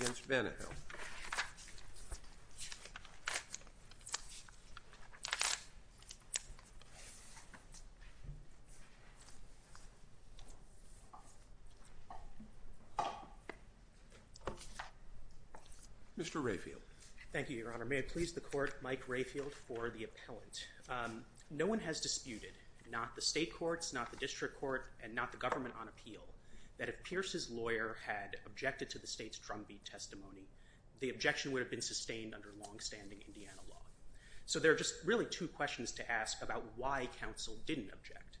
Mr. Rayfield. Thank you, Your Honor. May it please the court, Mike Rayfield for the appellant. No one has disputed, not the state courts, not the district court, and not the government on appeal, that if Pierce's lawyer had objected to the testimony, the objection would have been sustained under long-standing Indiana law. So there are just really two questions to ask about why counsel didn't object.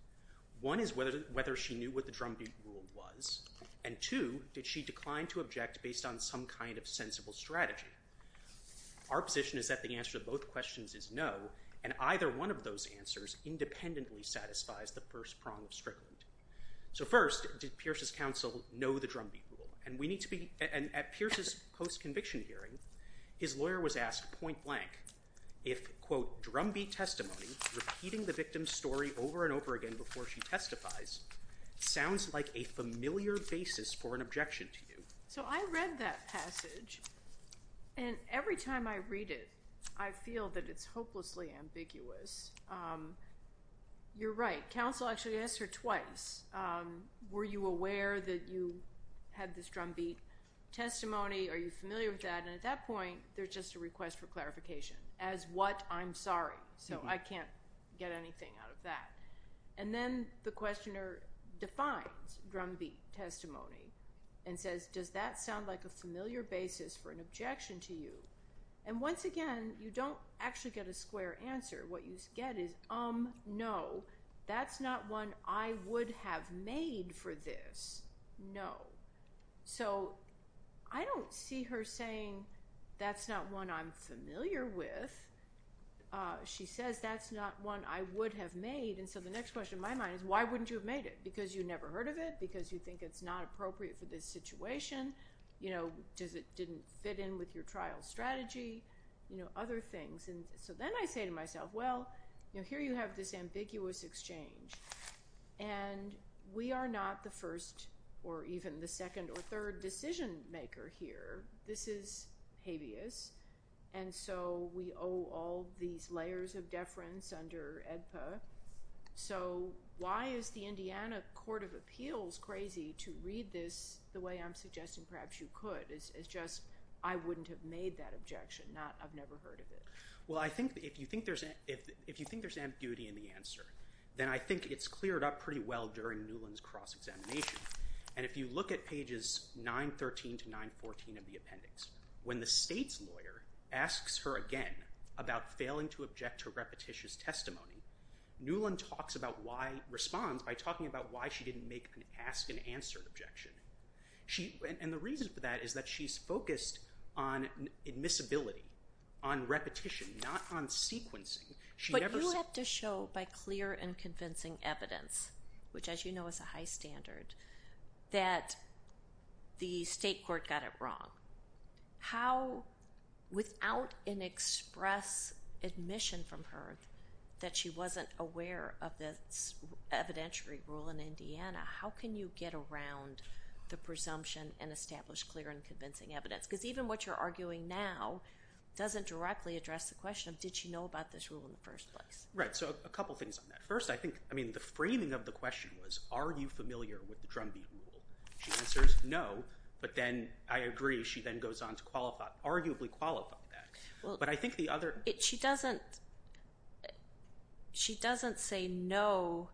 One is whether she knew what the drumbeat rule was, and two, did she decline to object based on some kind of sensible strategy? Our position is that the answer to both questions is no, and either one of those answers independently satisfies the first prong of Strickland. So first, did Pierce's post-conviction hearing, his lawyer was asked point-blank if, quote, drumbeat testimony, repeating the victim's story over and over again before she testifies, sounds like a familiar basis for an objection to you. So I read that passage, and every time I read it, I feel that it's hopelessly ambiguous. You're right. Counsel actually asked her twice, were you aware that you had this drumbeat testimony, are you familiar with that? And at that point, there's just a request for clarification, as what, I'm sorry. So I can't get anything out of that. And then the questioner defines drumbeat testimony and says, does that sound like a familiar basis for an objection to you? And once again, you don't actually get a square answer. What you get is, um, no, that's not one I would have made for this. No. So I don't see her saying, that's not one I'm familiar with. She says, that's not one I would have made. And so the next question in my mind is, why wouldn't you have made it? Because you never heard of it? Because you think it's not appropriate for this situation? You know, does it didn't fit in with your trial strategy? You know, other things. And so then I say to myself, well, you have this ambiguous exchange. And we are not the first or even the second or third decision maker here. This is habeas. And so we owe all these layers of deference under AEDPA. So why is the Indiana Court of Appeals crazy to read this the way I'm suggesting perhaps you could? It's just, I wouldn't have made that objection. I've never heard of it. Well, I think if you think there's ambiguity in the answer, then I think it's cleared up pretty well during Newland's cross-examination. And if you look at pages 913 to 914 of the appendix, when the state's lawyer asks her again about failing to object to repetitious testimony, Newland talks about why, responds by talking about why she didn't make an ask-and-answer objection. And the reason for that is that she's focused on admissibility, on repetition, not on sequencing. But you have to show by clear and convincing evidence, which as you know is a high standard, that the state court got it wrong. How, without an express admission from her that she wasn't aware of this evidentiary rule in Indiana, how can you get around the presumption and establish clear and convincing evidence? Because even what you're arguing now doesn't directly address the question of did she know about this rule in the first place. Right, so a couple things on that. First, I think, I mean, the framing of the question was, are you familiar with the drumbeat rule? She answers no, but then, I agree, she then goes on to qualify, arguably qualify that. But I think the other... She doesn't, she doesn't say no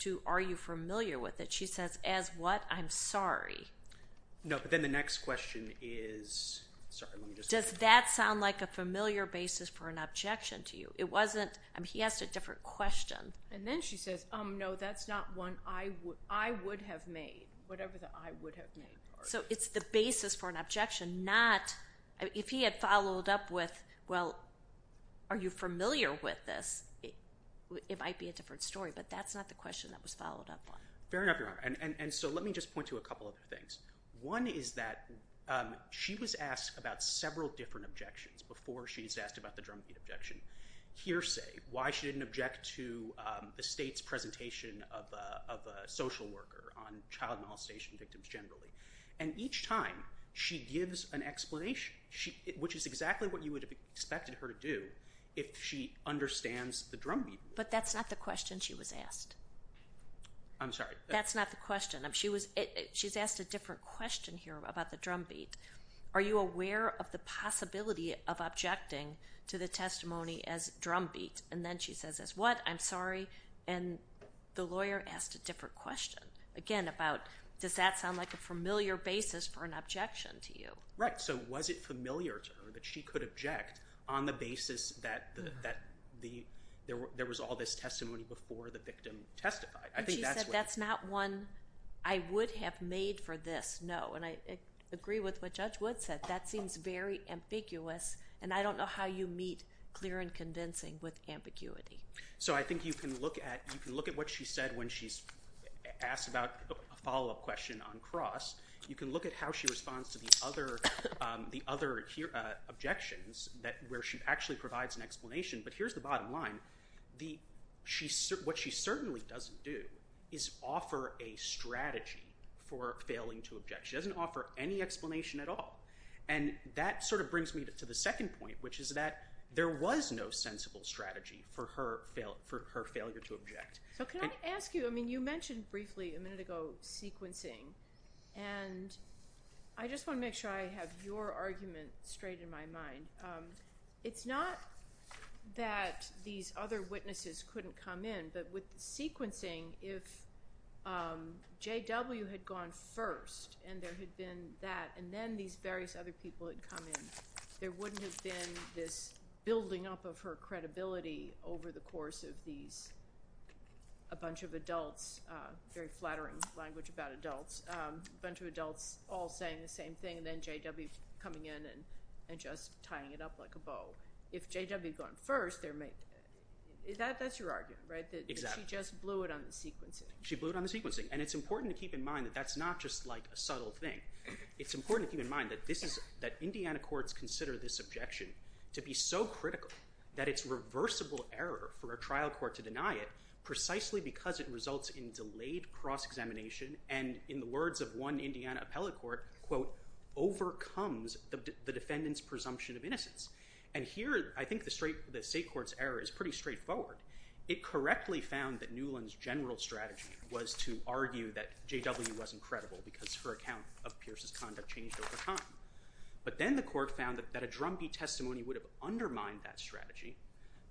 to are you familiar with it. She says, as what, I'm sorry. No, but then the next question is... Does that sound like a familiar basis for an objection to you? It wasn't, I mean, he asked a different question. And then she says, oh no, that's not one I would have made, whatever the I would have made. So it's the basis for an objection, not, if he had followed up with, well, are you familiar with this? It might be a different story, but that's not the question that was followed up on. Fair enough, Your Honor. And so let me just point to a couple of things. One is that she was asked about several different objections before she was asked about the drumbeat objection. Hearsay, why she didn't object to the state's presentation of a social worker on child molestation victims generally. And each time, she gives an explanation, which is exactly what you would have expected her to do if she understands the drumbeat rule. But that's not the question she was asked. I'm sorry. That's not the question. She was, she's asked a different question here about the drumbeat. Are you aware of the possibility of objecting to the testimony as drumbeat? And then she says as what? I'm sorry. And the lawyer asked a different question. Again, about, does that sound like a familiar basis for an objection to you? Right, so was it familiar to her that she could object on the basis that there was all this testimony before the victim testified? And she said that's not one I would have made for this, no. And I agree with what Judge Wood said. That seems very ambiguous and I don't know how you meet clear and convincing with ambiguity. So I think you can look at, you can look at what she said when she's asked about a follow-up question on Cross. You can look at how she responds to the other, the other objections that, where she actually provides an explanation. But here's the thing. What she certainly doesn't do is offer a strategy for failing to object. She doesn't offer any explanation at all. And that sort of brings me to the second point, which is that there was no sensible strategy for her failure to object. So can I ask you, I mean you mentioned briefly a minute ago sequencing, and I just want to make sure I have your argument straight in my mind. It's not that these other witnesses couldn't come in, but with sequencing, if JW had gone first and there had been that, and then these various other people had come in, there wouldn't have been this building up of her credibility over the course of these, a bunch of adults, very flattering language about adults, a bunch of adults all saying the same thing, and then JW coming in and just tying it up like a bow. If JW had gone first, there may, is that, that's your argument, right? Exactly. She just blew it on the sequencing. She blew it on the sequencing. And it's important to keep in mind that that's not just like a subtle thing. It's important to keep in mind that this is, that Indiana courts consider this objection to be so critical that it's reversible error for a trial court to deny it, precisely because it results in delayed cross-examination, and in the words of one Indiana appellate court, quote, overcomes the defendant's innocence. And here, I think the straight, the state court's error is pretty straightforward. It correctly found that Newland's general strategy was to argue that JW wasn't credible because her account of Pierce's conduct changed over time, but then the court found that a drumbeat testimony would have undermined that strategy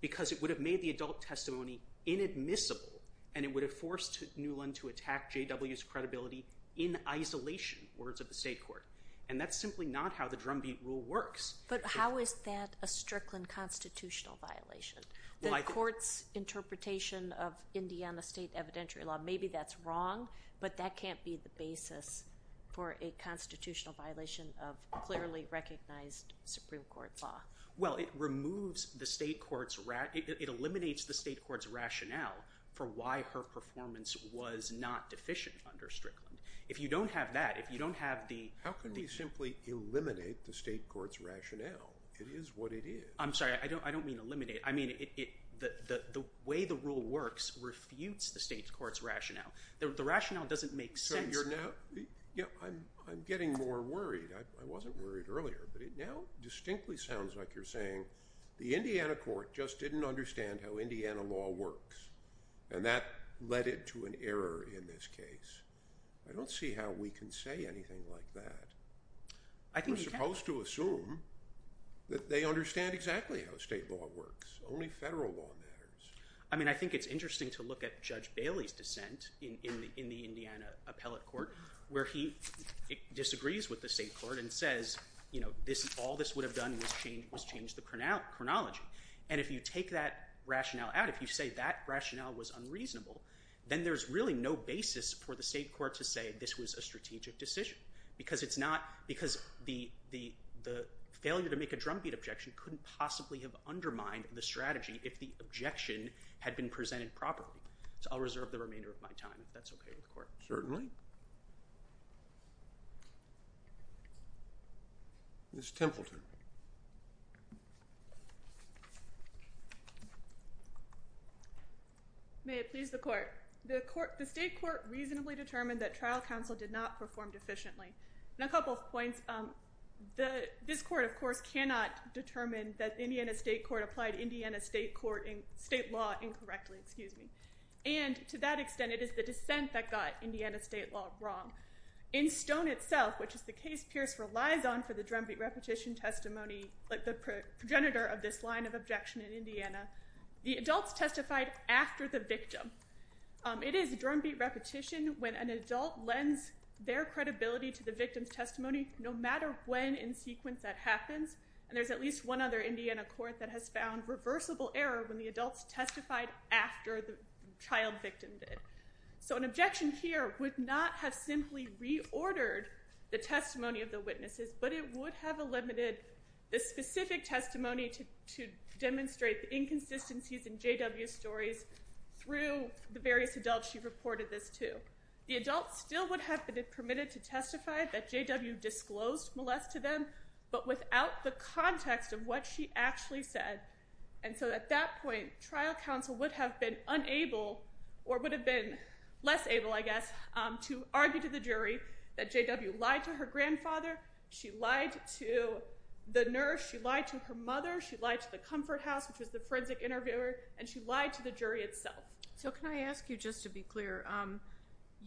because it would have made the adult testimony inadmissible, and it would have forced Newland to attack JW's credibility in isolation, words of the state court. And that's simply not how the drumbeat rule works. But how is that a Strickland constitutional violation? The court's interpretation of Indiana state evidentiary law, maybe that's wrong, but that can't be the basis for a constitutional violation of clearly recognized Supreme Court law. Well, it removes the state court's, it eliminates the state court's rationale for why her performance was not deficient under Strickland. If you don't have that, if you don't have the... How can we simply eliminate the state court's rationale? It is what it is. I'm sorry, I don't, I don't mean eliminate. I mean it, the, the way the rule works refutes the state's court's rationale. The rationale doesn't make sense. So you're now, yeah, I'm getting more worried. I wasn't worried earlier, but it now distinctly sounds like you're saying the Indiana court just didn't understand how Indiana law works, and that led it to an indisputable case. I don't see how we can say anything like that. I think we're supposed to assume that they understand exactly how state law works. Only federal law matters. I mean, I think it's interesting to look at Judge Bailey's dissent in the, in the Indiana appellate court, where he disagrees with the state court and says, you know, this, all this would have done was change, was change the chronology. And if you take that rationale out, if you say that rationale was unreasonable, then there's really no basis for the state court to say this was a strategic decision, because it's not, because the, the, the failure to make a drumbeat objection couldn't possibly have undermined the strategy if the objection had been presented properly. So I'll reserve the remainder of my time if that's okay with the court. Certainly. Ms. Templeton. May it please the court. The court, the state court reasonably determined that trial counsel did not perform deficiently. And a couple of points. The, this court, of course, cannot determine that Indiana State Court applied Indiana State Court in, state law incorrectly, excuse me, and to that extent it is the dissent that got Indiana State law wrong. In Stone itself, which is the case Pierce relies on for the drumbeat repetition testimony, like the progenitor of this line of objection in Indiana, the adults testified after the victim. It is drumbeat repetition when an adult lends their credibility to the victim's testimony, no matter when in sequence that happens. And there's at least one other Indiana court that has found reversible error when the adults testified after the child victim did. So an objection here would not have simply reordered the testimony of the witnesses, but it would have eliminated the specific testimony to demonstrate the inconsistencies in JW's stories through the various adults she reported this to. The adults still would have been permitted to testify that JW disclosed molest to them, but without the context of what she actually said. And so at that point, trial counsel would have been unable, or would have been less able, I guess, to argue to the jury that JW lied to her grandfather, she lied to the nurse, she lied to her mother, she lied to the Comfort House, which was the forensic interviewer, and she lied to the jury itself. So can I ask you, just to be clear,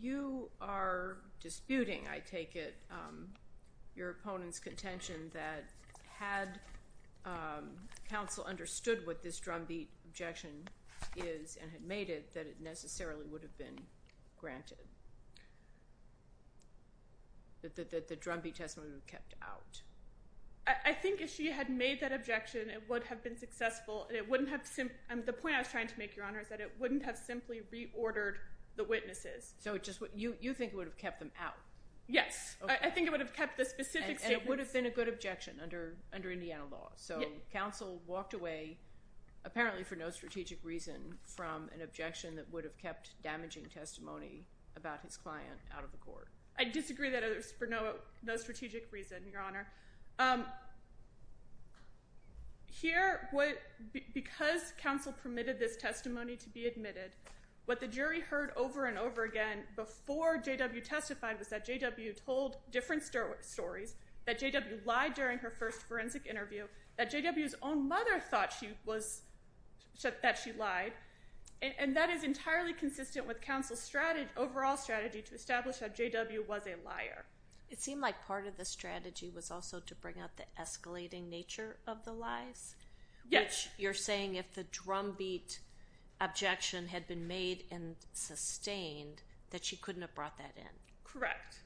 you are disputing, I take it, your counsel understood what this drumbeat objection is and had made it that it necessarily would have been granted? That the drumbeat testimony would have been kept out? I think if she had made that objection, it would have been successful, and it wouldn't have simply, and the point I was trying to make, Your Honor, is that it wouldn't have simply reordered the witnesses. So it just, you think it would have kept them out? Yes, I think it would have kept the specific statements. And it would have kept the specific testimony. So counsel walked away, apparently for no strategic reason, from an objection that would have kept damaging testimony about his client out of the court. I disagree that it was for no strategic reason, Your Honor. Here, because counsel permitted this testimony to be admitted, what the jury heard over and over again, before JW testified, was that JW told different stories, that JW lied during her first forensic interview, that JW's own mother thought she was, that she lied, and that is entirely consistent with counsel's strategy, overall strategy, to establish that JW was a liar. It seemed like part of the strategy was also to bring out the escalating nature of the lies? Yes. You're saying if the drumbeat objection had been made and sustained, that she couldn't have brought that in? Correct.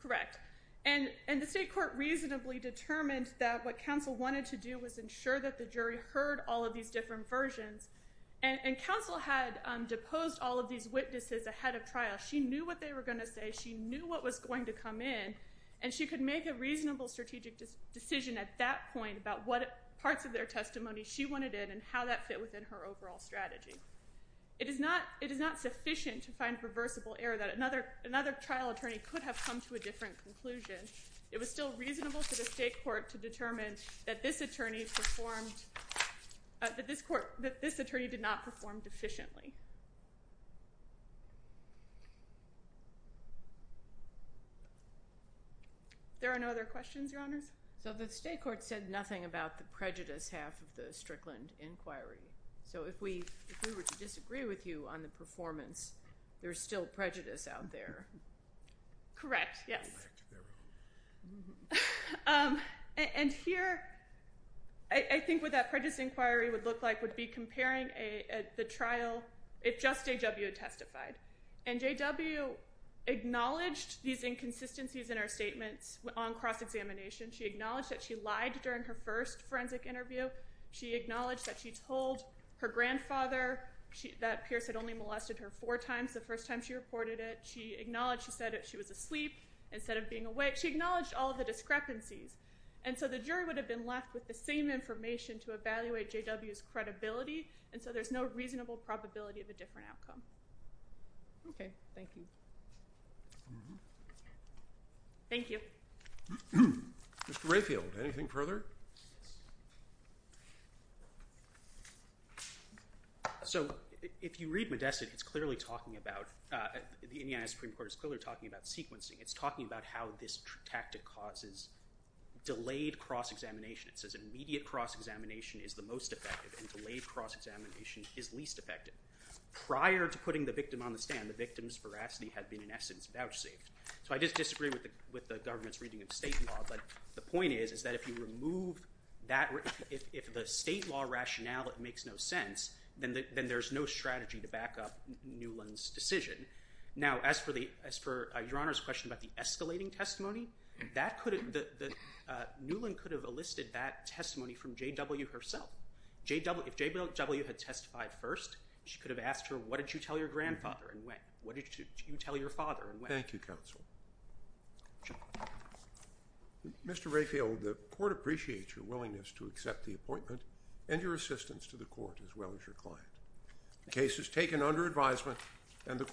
Correct. And the state court reasonably determined that what counsel wanted to do was ensure that the jury heard all of these different versions. And counsel had deposed all of these witnesses ahead of trial. She knew what they were going to say. She knew what was going to come in. And she could make a reasonable strategic decision at that point about what parts of their testimony she wanted in and how that fit within her overall strategy. It is not, it is not sufficient to find reversible error that another, another trial attorney could have come to a different conclusion. It was still reasonable for the state court to determine that this attorney performed, that this court, that this attorney did not perform deficiently. There are no other questions, Your Honors? So the state court said nothing about the prejudice half of the Strickland inquiry. So if we, if we were to disagree with you on the performance, there's still prejudice out there. Correct. Yes. And here, I think what that prejudice inquiry would look like would be comparing the trial, if just J.W. had testified. And J.W. acknowledged these inconsistencies in our statements on cross-examination. She acknowledged that she lied during her first forensic interview. She acknowledged that she told her grandfather that Pierce had only molested her four times the first time she reported it. She acknowledged, she said that she was asleep instead of being awake. She acknowledged all of the discrepancies. And so the jury would have been left with the same information to evaluate J.W.'s credibility. And so there's no reasonable probability of a different outcome. Okay. Thank you. Thank you. Mr. Rayfield, anything further? So if you read Modessett, it's clearly talking about, the Indiana Supreme Court is clearly talking about sequencing. It's talking about how this tactic causes delayed cross-examination. It says immediate cross-examination is the most effective and delayed cross-examination is least effective. Prior to putting the victim on the stand, the victim's veracity had been, in essence, vouchsafed. So I just disagree with the government's reading of state law. But the point is, is that if you remove that, if the state law rationale that makes no sense, then there's no strategy to back up Newland's decision. Now, as for the, as for Your Honor's question about the escalating testimony, that could have, Newland could have elicited that testimony from J.W. herself. If J.W. had testified first, she could have asked her, what did you tell your grandfather and when? What did you tell your father and when? Thank you, counsel. Mr. Rayfield, the court appreciates your willingness to accept the appointment and your assistance to the court as well as your client. The case is taken under advisement and the court